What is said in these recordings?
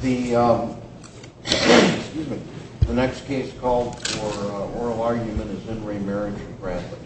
The next case called for oral argument is in re Marriage of Bradley.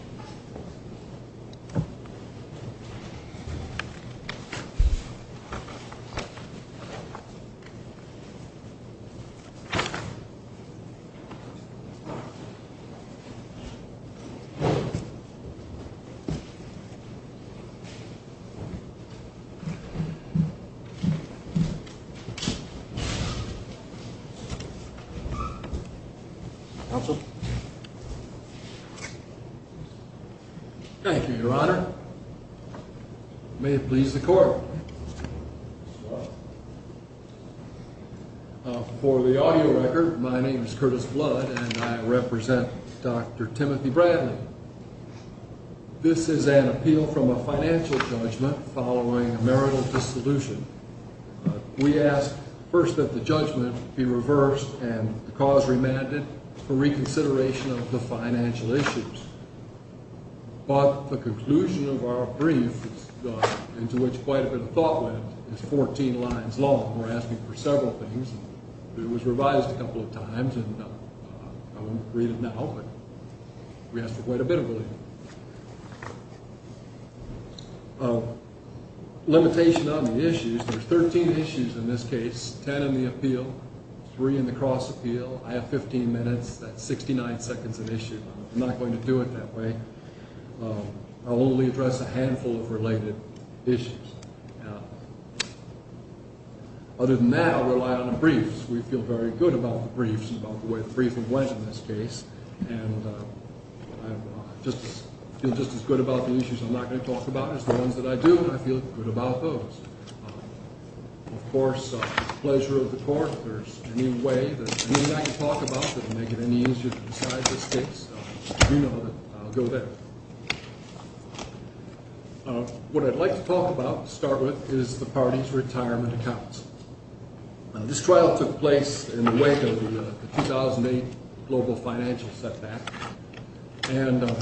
Thank you, your honor. May it please the court. For the audio record, my name is Curtis Blood and I represent Dr. Timothy Bradley. This is an appeal from a financial judgment following a marital dissolution. We ask first that the judgment be reversed and the cause remanded for reconsideration of the financial issues. But the conclusion of our brief, into which quite a bit of thought went, is 14 lines long. We're asking for several things. It was revised a couple of times. I won't read it now, but we asked for quite a bit of it. Limitation on the issues, there's 13 issues in this case, 10 in the appeal, 3 in the cross appeal. I have 15 minutes, that's 69 seconds of issue. I'm not going to do it that way. I'll only address a handful of related issues. Other than that, I'll rely on the briefs. We feel very good about the briefs and about the way the briefing went in this case. And I feel just as good about the issues I'm not going to talk about as the ones that I do, and I feel good about those. Of course, the pleasure of the court, if there's any way that I can talk about that would make it any easier to decide this case, you know that I'll go there. What I'd like to talk about to start with is the party's retirement accounts. This trial took place in the wake of the 2008 global financial setback. And the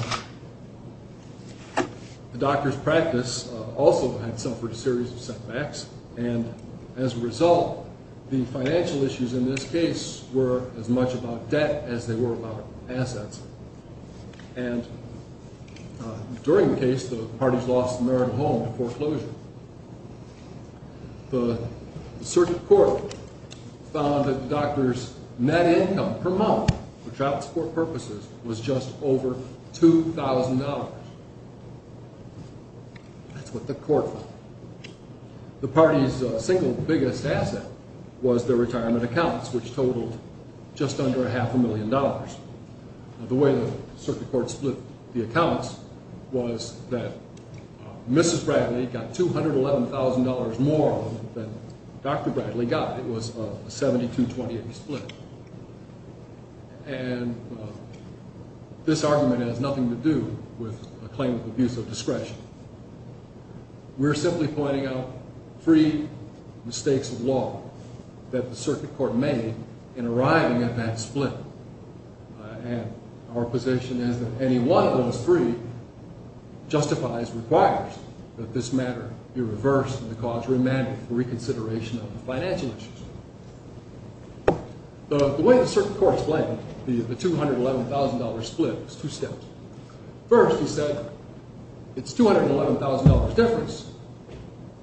doctor's practice also had suffered a series of setbacks. And as a result, the financial issues in this case were as much about debt as they were about assets. And during the case, the parties lost the marital home to foreclosure. The circuit court found that the doctor's net income per month for child support purposes was just over $2,000. That's what the court found. The party's single biggest asset was their retirement accounts, which totaled just under half a million dollars. The way the circuit court split the accounts was that Mrs. Bradley got $211,000 more than Dr. Bradley got. It was a 72-28 split. And this argument has nothing to do with a claim of abuse of discretion. We're simply pointing out three mistakes of law that the circuit court made in arriving at that split. And our position is that any one of those three justifies, requires that this matter be reversed and the cause remanded for reconsideration of the financial issues. The way the circuit court split, the $211,000 split, was two steps. First, he said, it's $211,000 difference,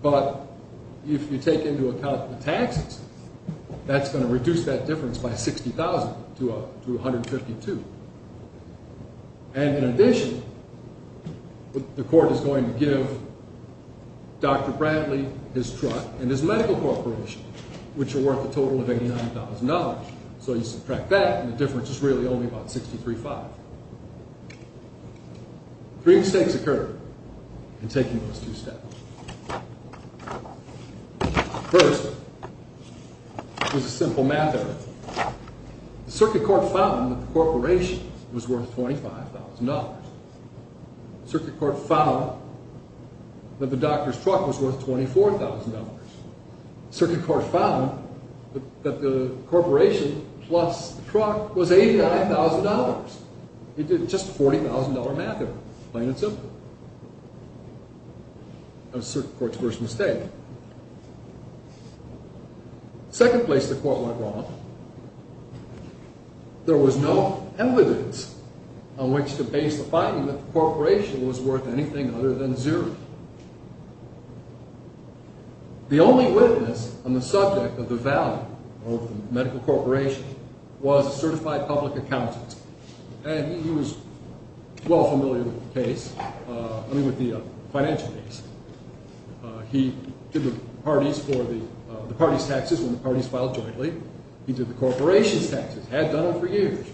but if you take into account the taxes, that's going to reduce that difference by $60,000 to $152,000. And in addition, the court is going to give Dr. Bradley his truck and his medical corporation, which are worth a total of $89,000. So you subtract that and the difference is really only about $63,500. Three mistakes occurred in taking those two steps. First, there's a simple math error. The circuit court found that the corporation was worth $25,000. The circuit court found that the doctor's truck was worth $24,000. The circuit court found that the corporation plus the truck was $89,000. It did just a $40,000 math error, plain and simple. That was the circuit court's first mistake. Second place the court went wrong. There was no evidence on which to base the finding that the corporation was worth anything other than zero. The only witness on the subject of the value of the medical corporation was a certified public accountant. And he was well familiar with the case, I mean with the financial case. He did the party's taxes when the parties filed jointly. He did the corporation's taxes, had done them for years.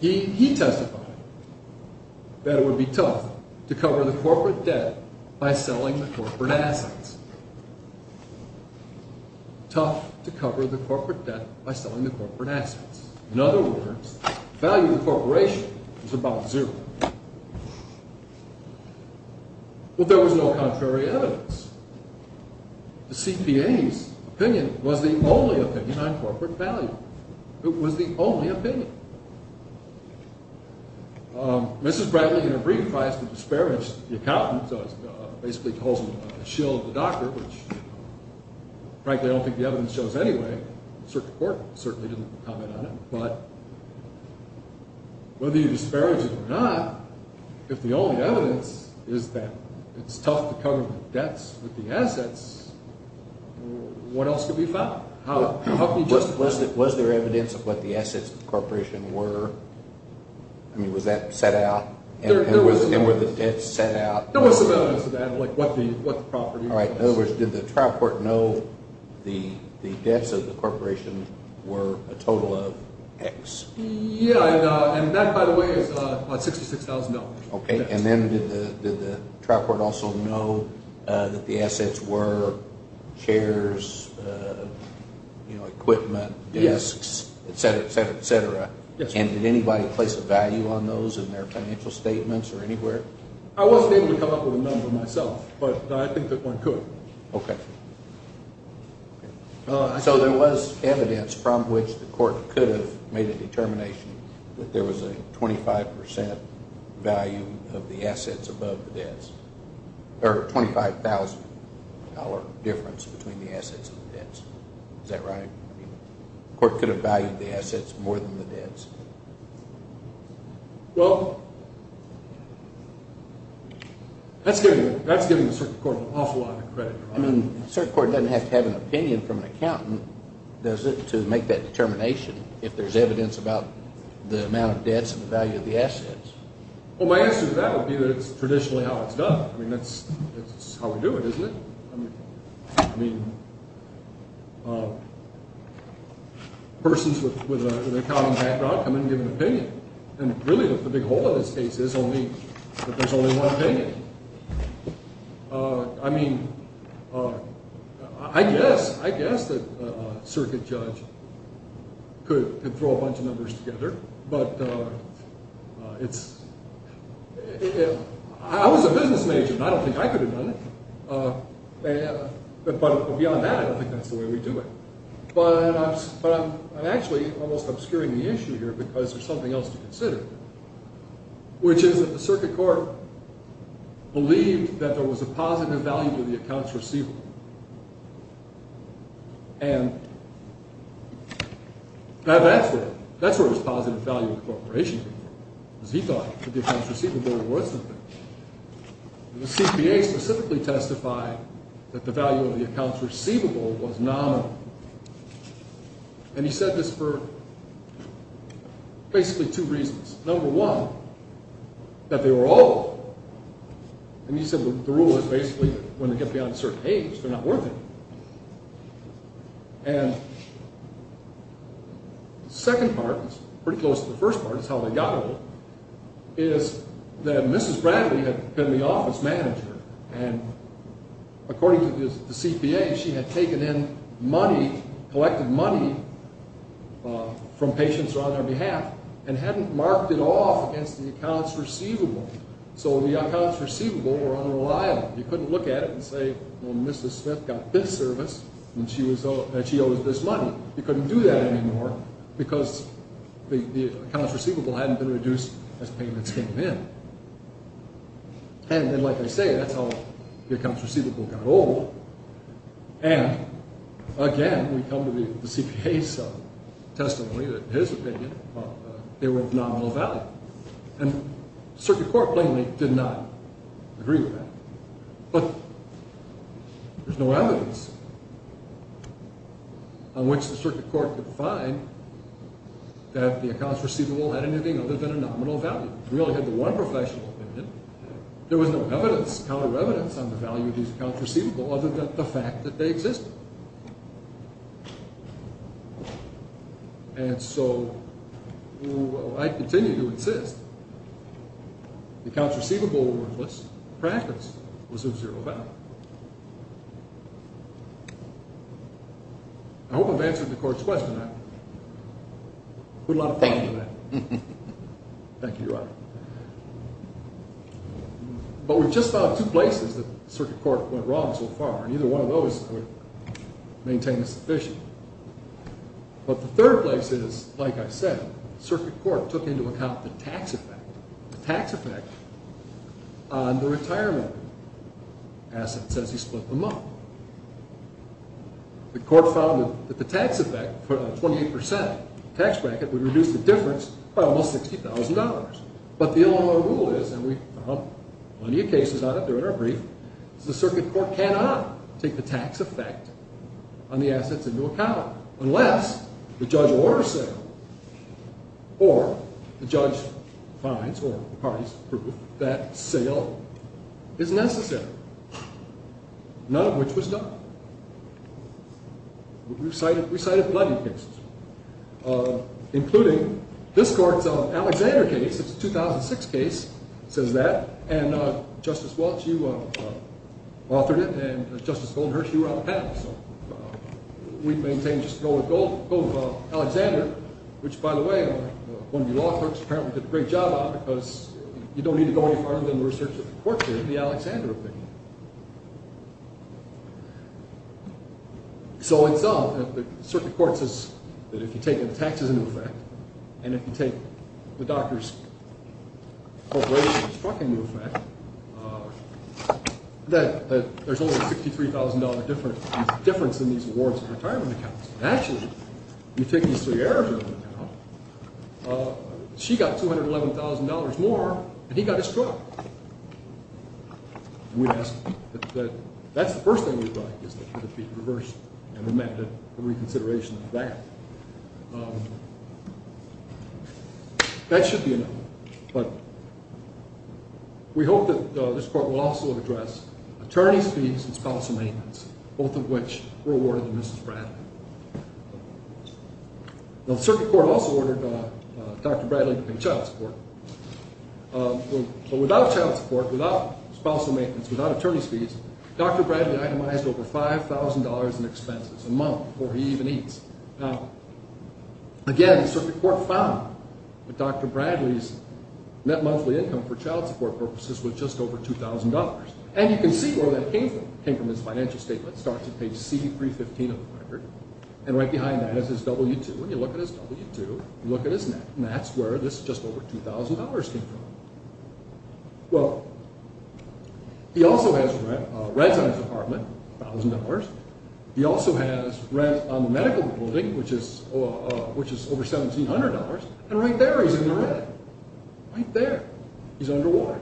He testified that it would be tough to cover the corporate debt by selling the corporate assets. Tough to cover the corporate debt by selling the corporate assets. In other words, the value of the corporation was about zero. But there was no contrary evidence. The CPA's opinion was the only opinion on corporate value. It was the only opinion. Mrs. Bradley, in a brief, tries to disparage the accountant, so basically calls him a shill of the doctor, which frankly I don't think the evidence shows anyway. The circuit court certainly didn't comment on it. But whether you disparage it or not, if the only evidence is that it's tough to cover the debts with the assets, what else could be found? Was there evidence of what the assets of the corporation were? I mean, was that set out? And were the debts set out? There was some evidence of that, like what the property was. In other words, did the trial court know the debts of the corporation were a total of X? Yeah, and that, by the way, is about $66,000. And then did the trial court also know that the assets were chairs, equipment, desks, etc., etc., etc.? And did anybody place a value on those in their financial statements or anywhere? I wasn't able to come up with a number myself, but I think that one could. Okay. So there was evidence from which the court could have made a determination that there was a 25% value of the assets above the debts, or $25,000 difference between the assets and the debts. Is that right? Well, that's giving the circuit court an awful lot of credit. I mean, the circuit court doesn't have to have an opinion from an accountant, does it, to make that determination if there's evidence about the amount of debts and the value of the assets. Well, my answer to that would be that it's traditionally how it's done. I mean, that's how we do it, isn't it? I mean, persons with an accounting background come in and give an opinion, and really the big hole in this case is that there's only one opinion. I mean, I guess that a circuit judge could throw a bunch of numbers together, but it's – I was a business major, and I don't think I could have done it. But beyond that, I don't think that's the way we do it. But I'm actually almost obscuring the issue here because there's something else to consider, which is that the circuit court believed that there was a positive value to the accounts receivable. And to have an answer to that, that's where his positive value incorporation came from, because he thought that the accounts receivable were worth something. The CPA specifically testified that the value of the accounts receivable was nominal. And he said this for basically two reasons. Number one, that they were all. And he said the rule was basically that when they get beyond a certain age, they're not worth anything. And the second part, which is pretty close to the first part, is how they got old, is that Mrs. Bradley had been the office manager, and according to the CPA, she had taken in money, collected money from patients who were on their behalf and hadn't marked it off against the accounts receivable. So the accounts receivable were unreliable. You couldn't look at it and say, well, Mrs. Smith got this service and she owes this money. You couldn't do that anymore because the accounts receivable hadn't been reduced as payments came in. And then, like I say, that's how the accounts receivable got old. And again, we come to the CPA's testimony that in his opinion, they were of nominal value. And the Circuit Court plainly did not agree with that. But there's no evidence on which the Circuit Court could find that the accounts receivable had anything other than a nominal value. We only had the one professional opinion. There was no evidence, counter evidence, on the value of these accounts receivable other than the fact that they existed. And so I continue to insist the accounts receivable were worthless. Practice was of zero value. I hope I've answered the Court's question. I put a lot of thought into that. Thank you. Thank you, Your Honor. But we've just found two places that the Circuit Court went wrong so far. And either one of those would maintain the suspicion. But the third place is, like I said, the Circuit Court took into account the tax effect. The tax effect on the retirement assets as you split them up. The Court found that the tax effect for the 28% tax bracket would reduce the difference by almost $60,000. But the Illinois rule is, and we found plenty of cases out there in our brief, is the Circuit Court cannot take the tax effect on the assets into account unless the judge orders sale. Or the judge finds, or the parties prove, that sale is necessary. None of which was done. We cited plenty of cases, including this Court's Alexander case. It's a 2006 case. It says that. And Justice Walts, you authored it. And Justice Goldenherz, you were on the panel. So we maintain just to go with Alexander, which, by the way, one of your law clerks apparently did a great job on it because you don't need to go any farther than the research that the Court did in the Alexander opinion. So in sum, the Circuit Court says that if you take the taxes into effect and if you take the doctor's corporation's truck into effect, that there's only a $63,000 difference in these awards and retirement accounts. And actually, if you take Ms. Thayer's retirement account, she got $211,000 more than he got his truck. And we ask that that's the first thing we'd like, is that it be reversed and amended for reconsideration of that. That should be enough. But we hope that this Court will also address attorney's fees and spousal maintenance, both of which were awarded to Mrs. Bradley. Now, the Circuit Court also ordered Dr. Bradley to pay child support. But without child support, without spousal maintenance, without attorney's fees, Dr. Bradley itemized over $5,000 in expenses a month before he even eats. Now, again, the Circuit Court found that Dr. Bradley's net monthly income for child support purposes was just over $2,000. And you can see where that came from. It came from his financial statement. It starts at page C315 of the record. And right behind that is his W-2. When you look at his W-2, you look at his net. And that's where this just over $2,000 came from. Well, he also has rent on his apartment, $1,000. He also has rent on the medical building, which is over $1,700. And right there he's in the red. Right there. He's underwater.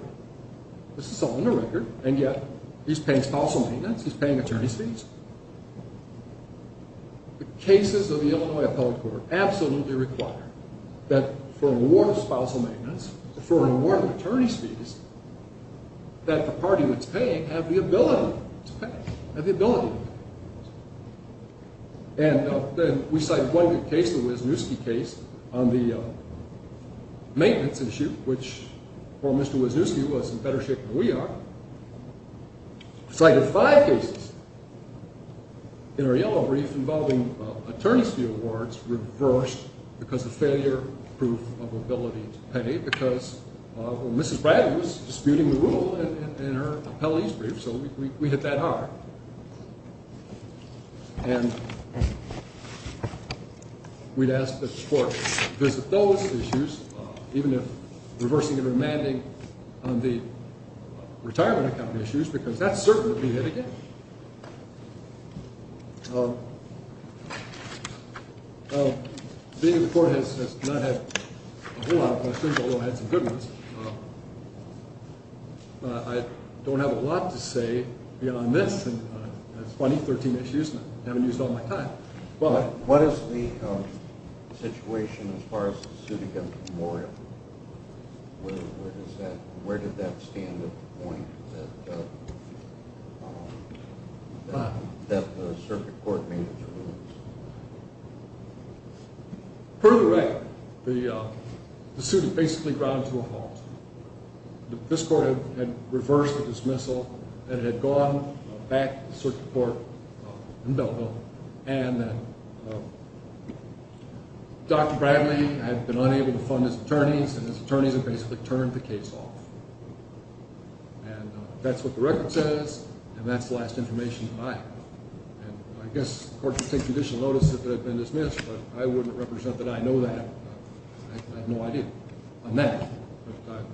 This is all in the record. And yet, he's paying spousal maintenance. He's paying attorney's fees. The cases of the Illinois Appellate Court absolutely require that for a warrant of spousal maintenance, for a warrant of attorney's fees, that the party that's paying have the ability to pay, have the ability to pay. And we cited one good case, the Wisniewski case, on the maintenance issue, which poor Mr. Wisniewski was in better shape than we are. We cited five cases in our yellow brief involving attorney's fee awards reversed because of failure proof of ability to pay, because Mrs. Bradley was disputing the rule in her appellate's brief, so we hit that hard. And we'd ask that the court visit those issues, even if reversing and remanding on the retirement account issues, because that certainly would be hit again. Being that the court has not had a whole lot of questions, although it had some good ones, I don't have a lot to say on this. It's funny, 13 issues, and I haven't used all my time. What is the situation as far as the suit against Memorial? Where did that stand at the point that the circuit court made its ruling? Per the record, the suit had basically ground to a halt. This court had reversed the dismissal, and it had gone back to the circuit court in Belleville, and Dr. Bradley had been unable to fund his attorneys, and his attorneys had basically turned the case off. And that's what the record says, and that's the last information that I have. And I guess the court could take additional notice if it had been dismissed, but I wouldn't represent that I know that. I have no idea on that. But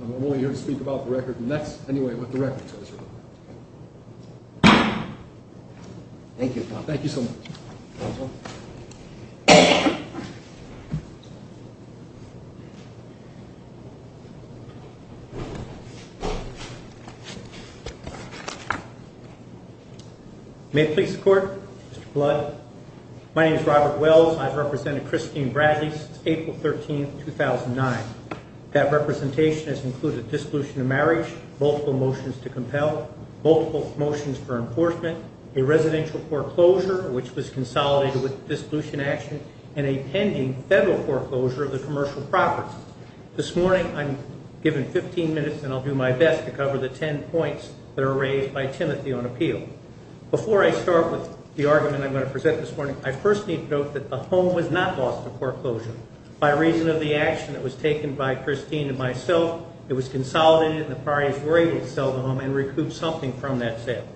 I'm only here to speak about the record, and that's anyway what the record says. Thank you, Tom. Thank you so much. May it please the court, Mr. Blood. My name is Robert Wells, and I've represented Christine Bradley since April 13, 2009. That representation has included a dissolution of marriage, multiple motions to compel, multiple motions for enforcement, a residential foreclosure, which was consolidated with a dissolution action, and a pending federal foreclosure of the commercial properties. This morning, I'm given 15 minutes, and I'll do my best to cover the 10 points that are raised by Timothy on appeal. Before I start with the argument I'm going to present this morning, I first need to note that the home was not lost to foreclosure. By reason of the action that was taken by Christine and myself, it was consolidated, and the parties were able to sell the home and recoup something from that sale.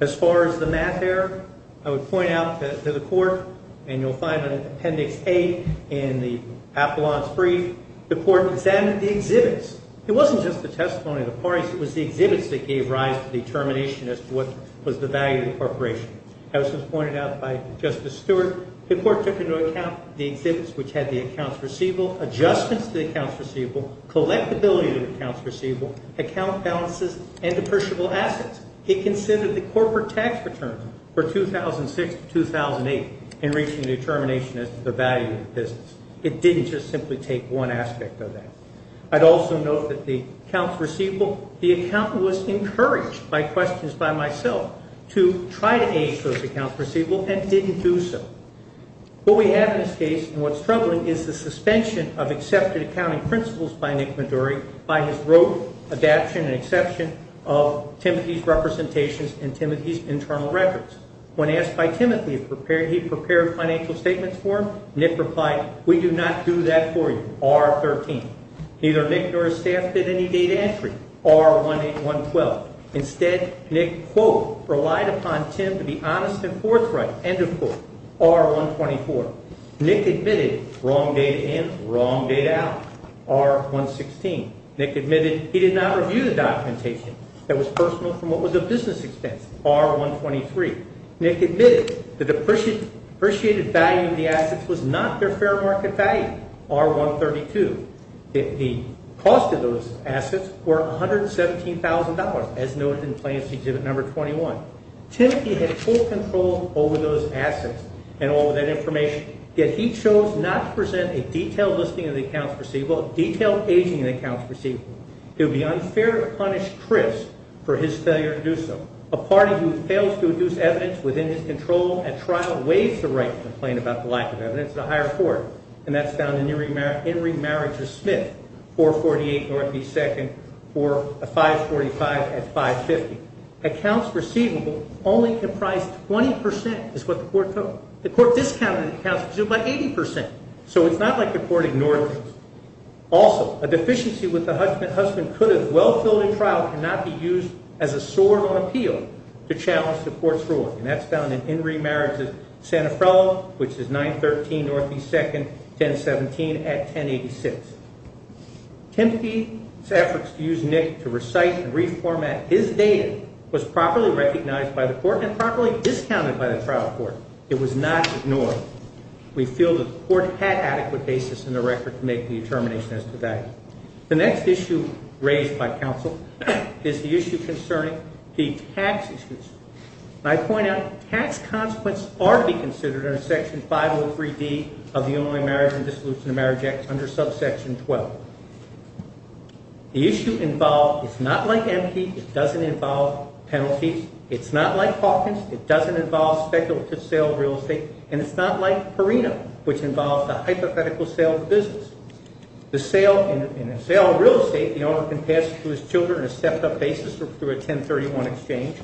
As far as the math error, I would point out to the court, and you'll find it in Appendix A in the Appellant's Brief, the court examined the exhibits. It wasn't just the testimony of the parties. It was the exhibits that gave rise to determination as to what was the value of the corporation. As was pointed out by Justice Stewart, the court took into account the exhibits which had the accounts receivable, adjustments to the accounts receivable, collectability of the accounts receivable, account balances, and depreciable assets. It considered the corporate tax return for 2006 to 2008 in reaching a determination as to the value of the business. It didn't just simply take one aspect of that. I'd also note that the accounts receivable, the accountant was encouraged by questions by myself to try to age those accounts receivable and didn't do so. What we have in this case and what's troubling is the suspension of accepted accounting principles by Nick Maduri by his rote adaption and exception of Timothy's representations and Timothy's internal records. When asked by Timothy if he prepared financial statements for him, Nick replied, we do not do that for you, R13. Neither Nick nor his staff did any data entry, R18112. Instead, Nick, quote, relied upon Tim to be honest and forthright, end of quote, R124. Nick admitted wrong data in, wrong data out, R116. Nick admitted he did not review the documentation that was personal from what was a business expense, R123. Nick admitted the depreciated value of the assets was not their fair market value, R132. The cost of those assets were $117,000, as noted in Plaintiff's Exhibit Number 21. Timothy had full control over those assets and all of that information, yet he chose not to present a detailed listing of the accounts receivable, a detailed aging of the accounts receivable. It would be unfair to punish Chris for his failure to do so. A party who fails to induce evidence within his control at trial waives the right to complain about the lack of evidence at a higher court, and that's found in Henry Marriages Smith, 448 Northeast 2nd, 545 at 550. Accounts receivable only comprise 20% is what the court took. The court discounted the accounts receivable by 80%, so it's not like the court ignored this. Also, a deficiency with the husband could as well filled in trial cannot be used as a sword on appeal to challenge the court's ruling, and that's found in Henry Marriages Sanofrello, which is 913 Northeast 2nd, 1017 at 1086. Timothy's efforts to use Nick to recite and reformat his data was properly recognized by the court and properly discounted by the trial court. It was not ignored. We feel the court had adequate basis in the record to make the determination as to that. The next issue raised by counsel is the issue concerning the tax issues. I point out tax consequences are to be considered under Section 503D of the Unified Marriage and Dissolution of Marriage Act under subsection 12. The issue involved is not like MP. It doesn't involve penalties. It's not like Hawkins. It doesn't involve speculative sale of real estate, and it's not like Perino, which involves a hypothetical sale of a business. In a sale of real estate, the owner can pass to his children a stepped-up basis through a 1031 exchange.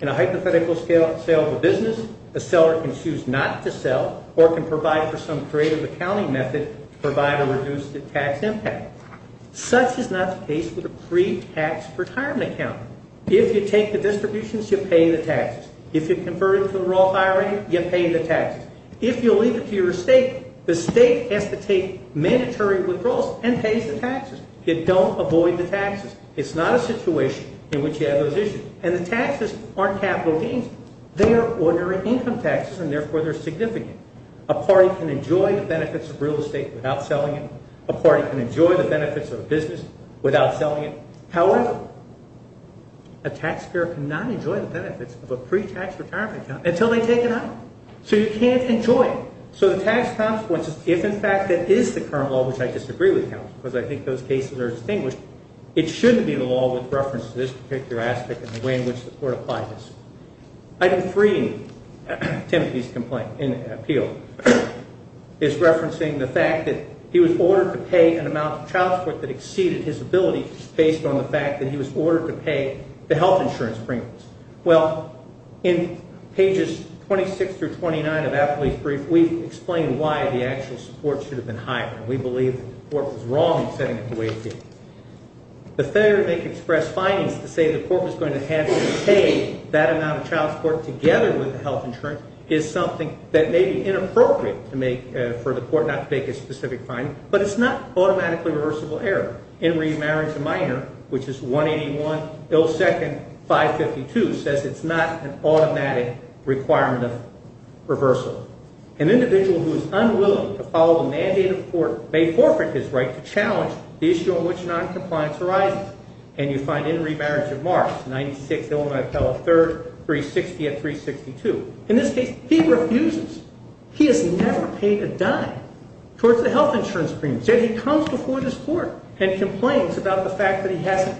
In a hypothetical sale of a business, a seller can choose not to sell or can provide for some creative accounting method to provide a reduced tax impact. Such is not the case with a pre-tax retirement account. If you take the distributions, you pay the taxes. If you convert it to the raw higher rate, you pay the taxes. If you leave it to your estate, the estate has to take mandatory withdrawals and pays the taxes. You don't avoid the taxes. It's not a situation in which you have those issues. And the taxes aren't capital gains. They are ordinary income taxes, and therefore they're significant. A party can enjoy the benefits of real estate without selling it. A party can enjoy the benefits of a business without selling it. However, a taxpayer cannot enjoy the benefits of a pre-tax retirement account until they take it out. So you can't enjoy it. So the tax consequences, if in fact that is the current law, which I disagree with, because I think those cases are distinguished, it shouldn't be the law with reference to this particular aspect and the way in which the court applies this. Item 3, Timothy's appeal, is referencing the fact that he was ordered to pay an amount of child support that exceeded his ability based on the fact that he was ordered to pay the health insurance premiums. Well, in pages 26 through 29 of that police brief, we've explained why the actual support should have been higher, and we believe the court was wrong in setting it the way it did. The failure to make express findings to say the court was going to have to pay that amount of child support together with the health insurance is something that may be inappropriate for the court not to make a specific finding, but it's not automatically reversible error. In remarriage of minor, which is 181, ill second, 552, says it's not an automatic requirement of reversal. An individual who is unwilling to follow the mandate of the court may forfeit his right to challenge the issue on which noncompliance arises. And you find in remarriage of marks, 96, Illinois appellate, third, 360 at 362. In this case, he refuses. He has never paid a dime towards the health insurance premiums. Yet he comes before this court and complains about the fact that he hasn't.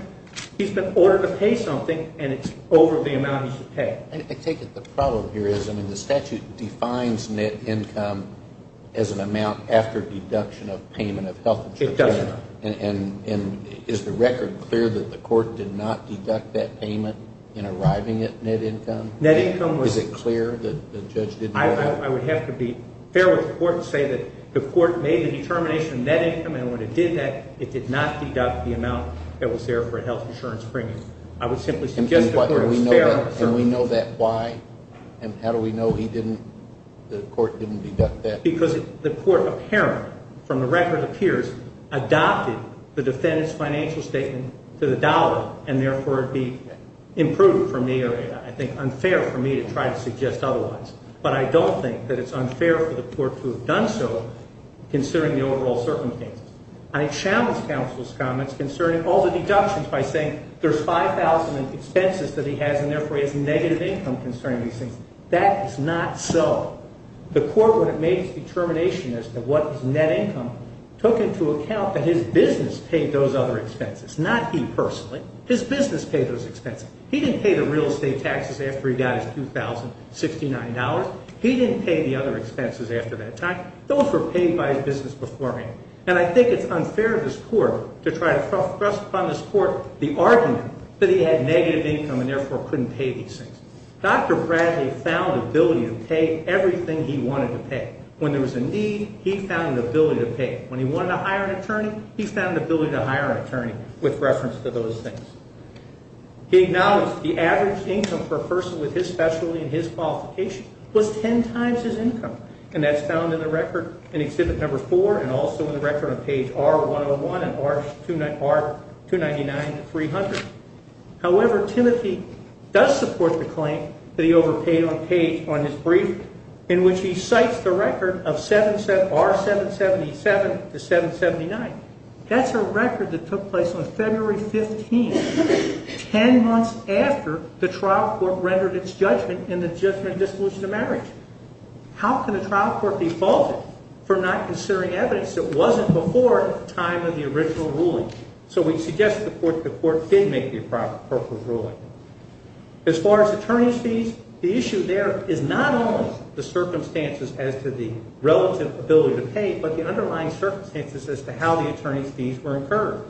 He's been ordered to pay something, and it's over the amount he should pay. I take it the problem here is, I mean, the statute defines net income as an amount after deduction of payment of health insurance. It doesn't. And is the record clear that the court did not deduct that payment in arriving at net income? Is it clear that the judge did not? I would have to be fair with the court and say that the court made the determination of net income, and when it did that, it did not deduct the amount that was there for a health insurance premium. I would simply suggest the court was fair. And we know that. Why and how do we know he didn't, the court didn't deduct that? Because the court apparently, from the record appears, adopted the defendant's financial statement to the dollar and therefore it be improved from the area. I think unfair for me to try to suggest otherwise. But I don't think that it's unfair for the court to have done so, considering the overall circumstances. I challenge counsel's comments concerning all the deductions by saying there's $5,000 in expenses that he has and therefore he has negative income concerning these things. That is not so. The court, when it made its determination as to what is net income, took into account that his business paid those other expenses, not he personally. His business paid those expenses. He didn't pay the real estate taxes after he got his $2,069. He didn't pay the other expenses after that time. Those were paid by his business beforehand. And I think it's unfair of this court to try to thrust upon this court the argument that he had negative income and therefore couldn't pay these things. Dr. Bradley found ability to pay everything he wanted to pay. When there was a need, he found an ability to pay. When he wanted to hire an attorney, he found an ability to hire an attorney with reference to those things. He acknowledged the average income for a person with his specialty and his qualification was ten times his income, and that's found in the record in Exhibit No. 4 and also in the record on page R101 and R299-300. However, Timothy does support the claim that he overpaid on page, on his brief, in which he cites the record of R777-779. That's a record that took place on February 15, ten months after the trial court rendered its judgment in the judgment of dissolution of marriage. How can a trial court be faulted for not considering evidence that wasn't before the time of the original ruling? So we suggest the court did make the appropriate ruling. As far as attorney's fees, the issue there is not only the circumstances as to the relative ability to pay, but the underlying circumstances as to how the attorney's fees were incurred.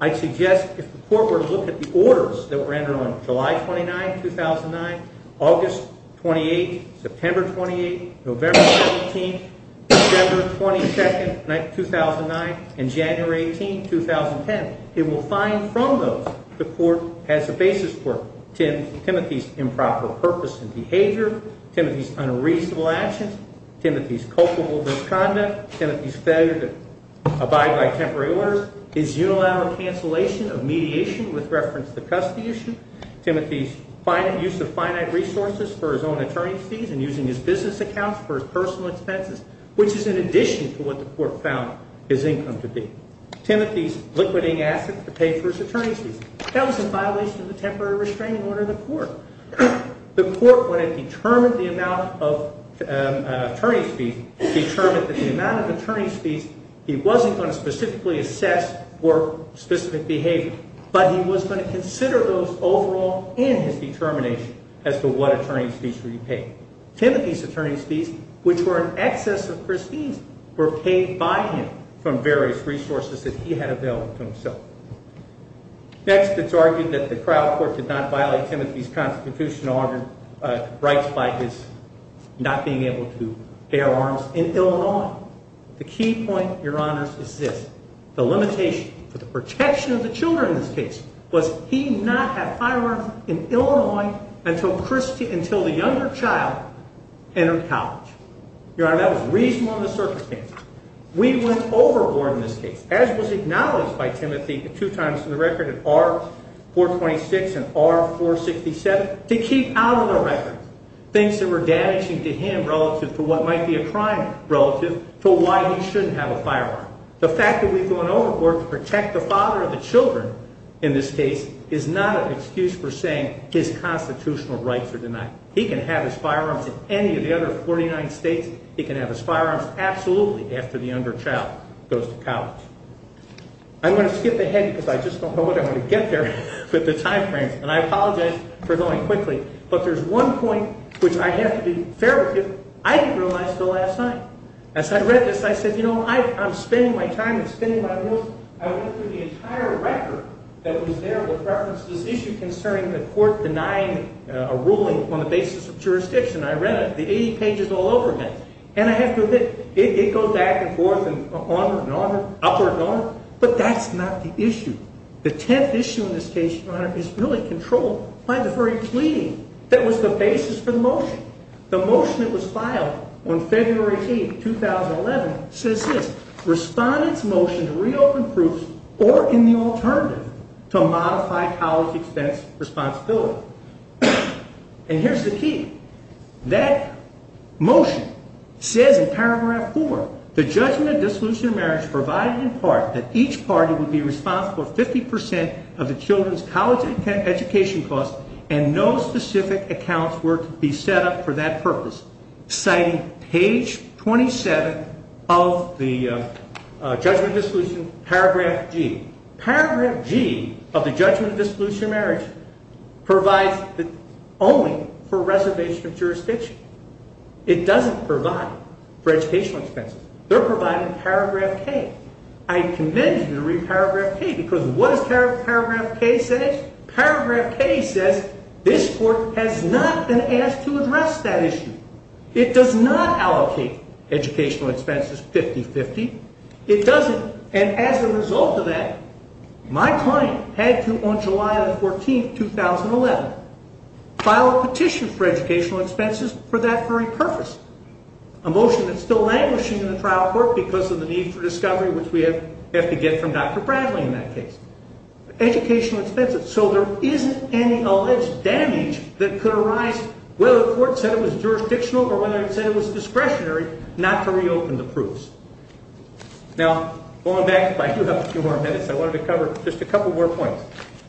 I suggest if the court were to look at the orders that were rendered on July 29, 2009, August 28, September 28, November 17, December 22, 2009, and January 18, 2010, it will find from those the court has a basis for Timothy's improper purpose and behavior, Timothy's unreasonable actions, Timothy's culpable misconduct, Timothy's failure to abide by temporary orders, his unilateral cancellation of mediation with reference to the custody issue, Timothy's use of finite resources for his own attorney's fees and using his business accounts for his personal expenses, which is in addition to what the court found his income to be. Timothy's liquidating assets to pay for his attorney's fees. That was in violation of the temporary restraining order of the court. The court, when it determined the amount of attorney's fees, determined that the amount of attorney's fees he wasn't going to specifically assess for specific behavior, but he was going to consider those overall in his determination as to what attorney's fees were to be paid. Timothy's attorney's fees, which were in excess of Christine's, were paid by him from various resources that he had available to himself. Next, it's argued that the trial court did not violate Timothy's constitutional rights by his not being able to bear arms in Illinois. The key point, Your Honors, is this. The limitation for the protection of the children in this case was he not have firearms in Illinois until the younger child entered college. Your Honor, that was reasonable in the circumstance. We went overboard in this case, as was acknowledged by Timothy two times to the record in R-426 and R-467, to keep out of the record things that were damaging to him relative to what might be a crime The fact that we've gone overboard to protect the father of the children in this case is not an excuse for saying his constitutional rights are denied. He can have his firearms in any of the other 49 states. He can have his firearms absolutely after the younger child goes to college. I'm going to skip ahead because I just don't know what I'm going to get there with the time frames, and I apologize for going quickly, but there's one point which I have to be fair with you. I didn't realize until last night. As I read this, I said, you know, I'm spending my time and spending my money. I went through the entire record that was there with reference to this issue concerning the court denying a ruling on the basis of jurisdiction. I read it, the 80 pages all over again. And I have to admit, it goes back and forth and on and on and upward and on. But that's not the issue. The 10th issue in this case, Your Honor, is really controlled by the very plea that was the basis for the motion. The motion that was filed on February 18, 2011, says this. Respondents motion to reopen proofs or in the alternative to modify college expense responsibility. And here's the key. That motion says in paragraph 4, the judgment of dissolution of marriage provided in part that each party would be responsible for 50% of the children's college education costs and no specific accounts were to be set up for that purpose. Citing page 27 of the judgment of dissolution, paragraph G. Paragraph G of the judgment of dissolution of marriage provides only for reservation of jurisdiction. It doesn't provide for educational expenses. They're providing paragraph K. I commend you to read paragraph K because what does paragraph K say? Paragraph K says this court has not been asked to address that issue. It does not allocate educational expenses 50-50. It doesn't. And as a result of that, my client had to, on July 14, 2011, file a petition for educational expenses for that very purpose, a motion that's still languishing in the trial court because of the need for discovery, which we have to get from Dr. Bradley in that case. Educational expenses. So there isn't any alleged damage that could arise whether the court said it was jurisdictional or whether it said it was discretionary not to reopen the proofs. Now, going back, if I could have a few more minutes, I wanted to cover just a couple more points.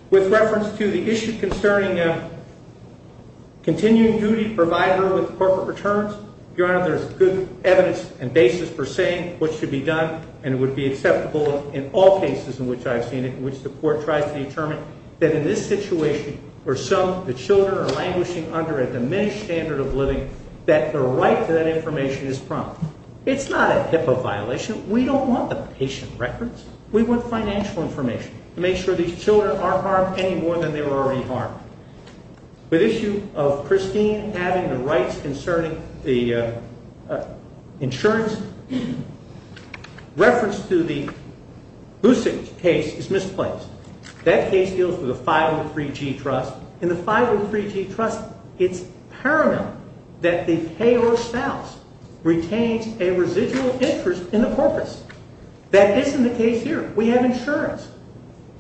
With reference to the issue concerning a continuing duty provider with corporate returns, Your Honor, there's good evidence and basis for saying what should be done, and it would be acceptable in all cases in which I've seen it, in which the court tries to determine, that in this situation where some of the children are languishing under a diminished standard of living, that the right to that information is prompted. It's not a HIPAA violation. We don't want the patient records. We want financial information to make sure these children aren't harmed any more than they were already harmed. With issue of Christine having the rights concerning the insurance, reference to the Boussig case is misplaced. That case deals with a 503G trust. In the 503G trust, it's paramount that the payor's spouse retains a residual interest in the corpus. That isn't the case here. We have insurance.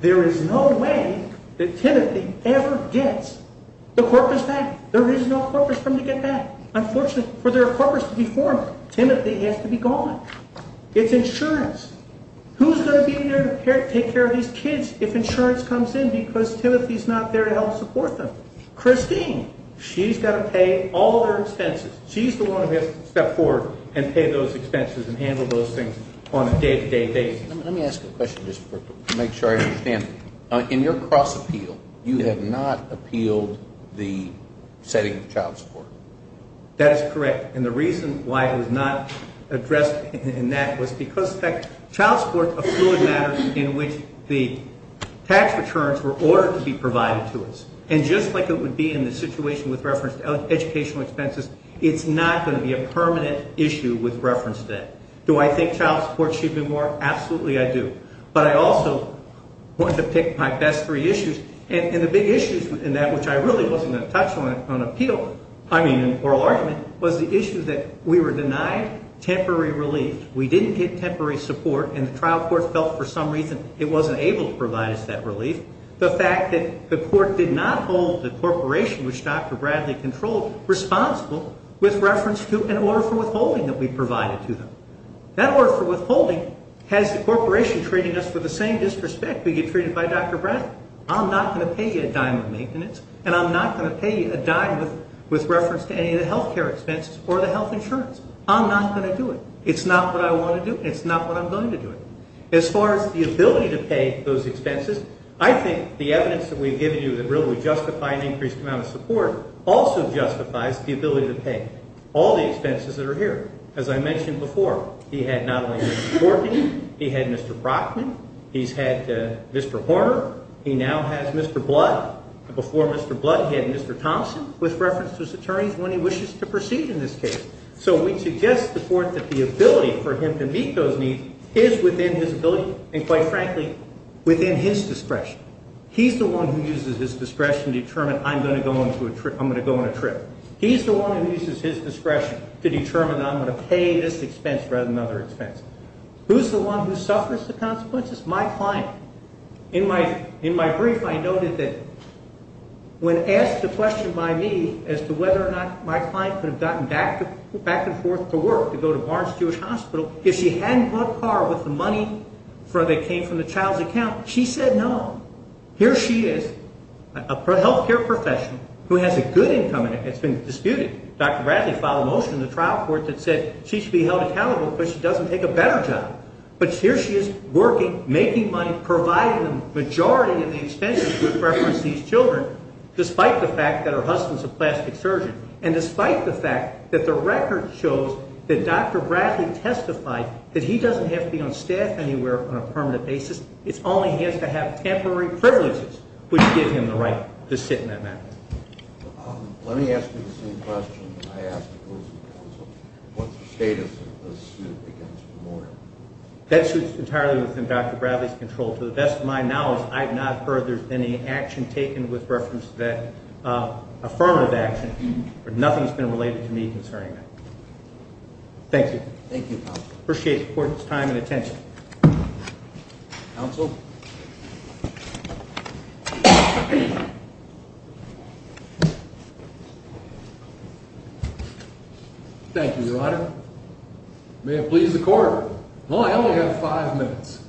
There is no way that Timothy ever gets the corpus back. There is no corpus for him to get back. Unfortunately, for the corpus to be formed, Timothy has to be gone. It's insurance. Who's going to be there to take care of these kids if insurance comes in because Timothy's not there to help support them? Christine, she's got to pay all their expenses. She's the one who has to step forward and pay those expenses and handle those things on a day-to-day basis. Let me ask you a question just to make sure I understand. In your cross-appeal, you have not appealed the setting of child support. That is correct. And the reason why it was not addressed in that was because, in fact, child support is a fluid matter in which the tax returns were ordered to be provided to us. And just like it would be in the situation with reference to educational expenses, it's not going to be a permanent issue with reference to that. Do I think child support should be more? Absolutely, I do. But I also want to pick my best three issues. And the big issues in that, which I really wasn't going to touch on in oral argument, was the issue that we were denied temporary relief, we didn't get temporary support, and the trial court felt for some reason it wasn't able to provide us that relief. The fact that the court did not hold the corporation, which Dr. Bradley controlled, responsible with reference to an order for withholding that we provided to them. That order for withholding has the corporation treating us with the same disrespect we get treated by Dr. Bradley. I'm not going to pay you a dime of maintenance, and I'm not going to pay you a dime with reference to any of the health care expenses or the health insurance. I'm not going to do it. It's not what I want to do, and it's not what I'm going to do. As far as the ability to pay those expenses, I think the evidence that we've given you that really justify an increased amount of support also justifies the ability to pay all the expenses that are here. As I mentioned before, he had not only Mr. Corky, he had Mr. Brockman. He's had Mr. Horner. He now has Mr. Blood. Before Mr. Blood, he had Mr. Thompson with reference to his attorneys when he wishes to proceed in this case. So we suggest to the court that the ability for him to meet those needs is within his ability and, quite frankly, within his discretion. He's the one who uses his discretion to determine I'm going to go on a trip. He's the one who uses his discretion to determine that I'm going to pay this expense rather than another expense. Who's the one who suffers the consequences? My client. In my brief, I noted that when asked a question by me as to whether or not my client could have gotten back and forth to work, to go to Barnes-Stewart Hospital, if she hadn't brought car with the money that came from the child's account, she said no. Here she is, a health care professional who has a good income and it's been disputed. Dr. Bradley filed a motion in the trial court that said she should be held accountable because she doesn't take a better job. But here she is working, making money, providing the majority of the expenses with reference to these children, despite the fact that her husband's a plastic surgeon and despite the fact that the record shows that Dr. Bradley testified that he doesn't have to be on staff anywhere on a permanent basis. It's only he has to have temporary privileges which give him the right to sit in that matter. That's entirely within Dr. Bradley's control. To the best of my knowledge, I have not heard there's been any action taken with reference to that affirmative action. Nothing's been related to me concerning that. Thank you. Thank you, counsel. Appreciate your time and attention. Counsel? Thank you, your honor. May it please the court. Well, I only have five minutes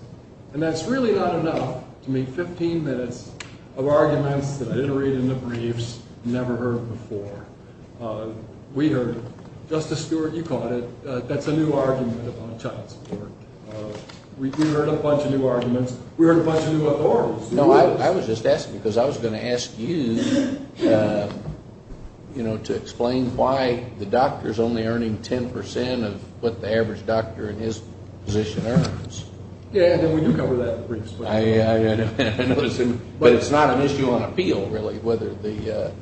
and that's really not enough to make 15 minutes of arguments that I didn't read in the briefs, that you've never heard before. We heard it. Justice Stewart, you caught it. That's a new argument on child support. We heard a bunch of new arguments. We heard a bunch of new authorities. No, I was just asking because I was going to ask you, you know, to explain why the doctor's only earning 10% of what the average doctor in his position earns. Yeah, and then we do cover that in the briefs. But it's not an issue on appeal, really, whether the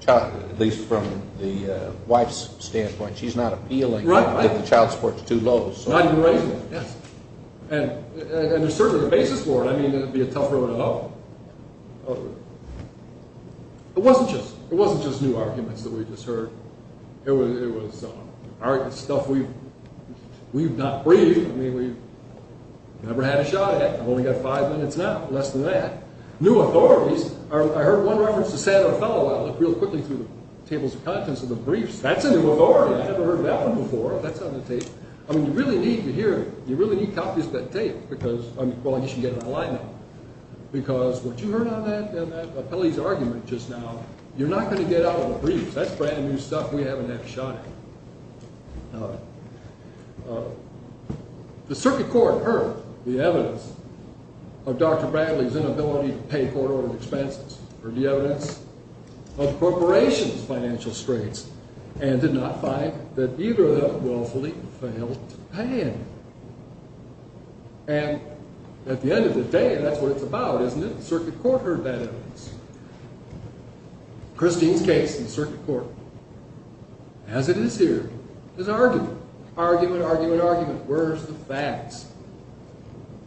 child, at least from the wife's standpoint. She's not appealing that the child support's too low. Not even raising it, yes. And there's certainly a basis for it. I mean, it would be a tough road to go. It wasn't just new arguments that we just heard. It was stuff we've not briefed. I mean, we've never had a shot at it. We've only got five minutes now. Less than that. New authorities. I heard one reference to San Othello. I looked real quickly through the tables of contents of the briefs. That's a new authority. I've never heard of that one before. That's on the tape. I mean, you really need to hear it. You really need copies of that tape because, well, you should get an alignment. Because what you heard on that and that appellee's argument just now, you're not going to get out of the briefs. That's brand new stuff we haven't had a shot at. All right. The circuit court heard the evidence of Dr. Bradley's inability to pay court-ordered expenses, heard the evidence of the corporation's financial straits, and did not find that either of them willfully failed to pay any. And at the end of the day, that's what it's about, isn't it? The circuit court heard that evidence. Christine's case in the circuit court, as it is here, is argument, argument, argument, argument. Where's the facts?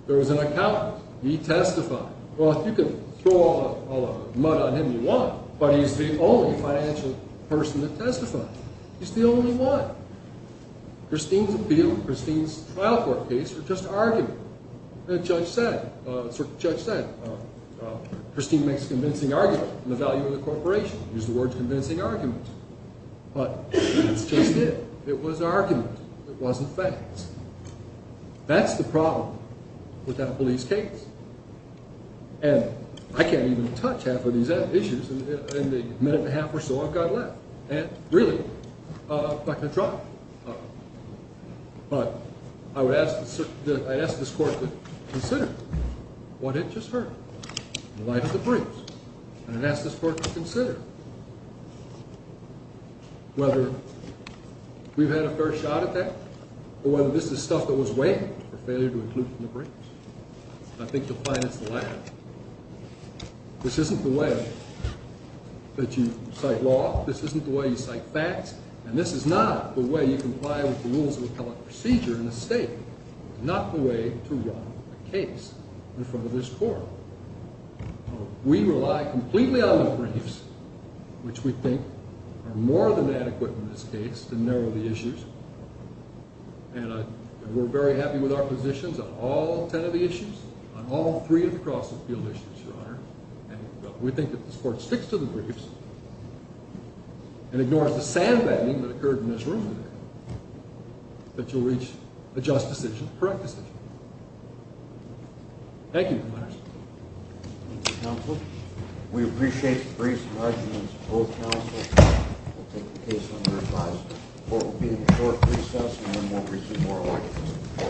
There was an accountant. He testified. Well, if you can throw all the mud on him, you won. But he's the only financial person to testify. He's the only one. Christine's appeal and Christine's trial court case were just argument. And the circuit judge said, Christine makes a convincing argument on the value of the corporation. Use the words convincing argument. But that's just it. It was argument. It wasn't facts. That's the problem with that appellee's case. And I can't even touch half of these issues in the minute and a half or so I've got left. And, really, I'm not going to try. But I would ask this court to consider what it just heard in light of the briefs. And I'd ask this court to consider whether we've had a fair shot at that or whether this is stuff that was weighed for failure to include in the briefs. And I think you'll find it's the latter. This isn't the way that you cite law. This isn't the way you cite facts. And this is not the way you comply with the rules of appellate procedure in the state. It's not the way to run a case in front of this court. We rely completely on the briefs, which we think are more than adequate in this case to narrow the issues. And we're very happy with our positions on all ten of the issues, on all three of the cross-appeal issues, Your Honor. And we think that if this court sticks to the briefs and ignores the sandbagging that occurred in this room, that you'll reach a just decision, a correct decision. Thank you, Your Honor. Thank you, Counsel. We appreciate the briefs and arguments of both counsels. We'll take the case under advice before repeating a short recess, and then we'll receive more arguments in court.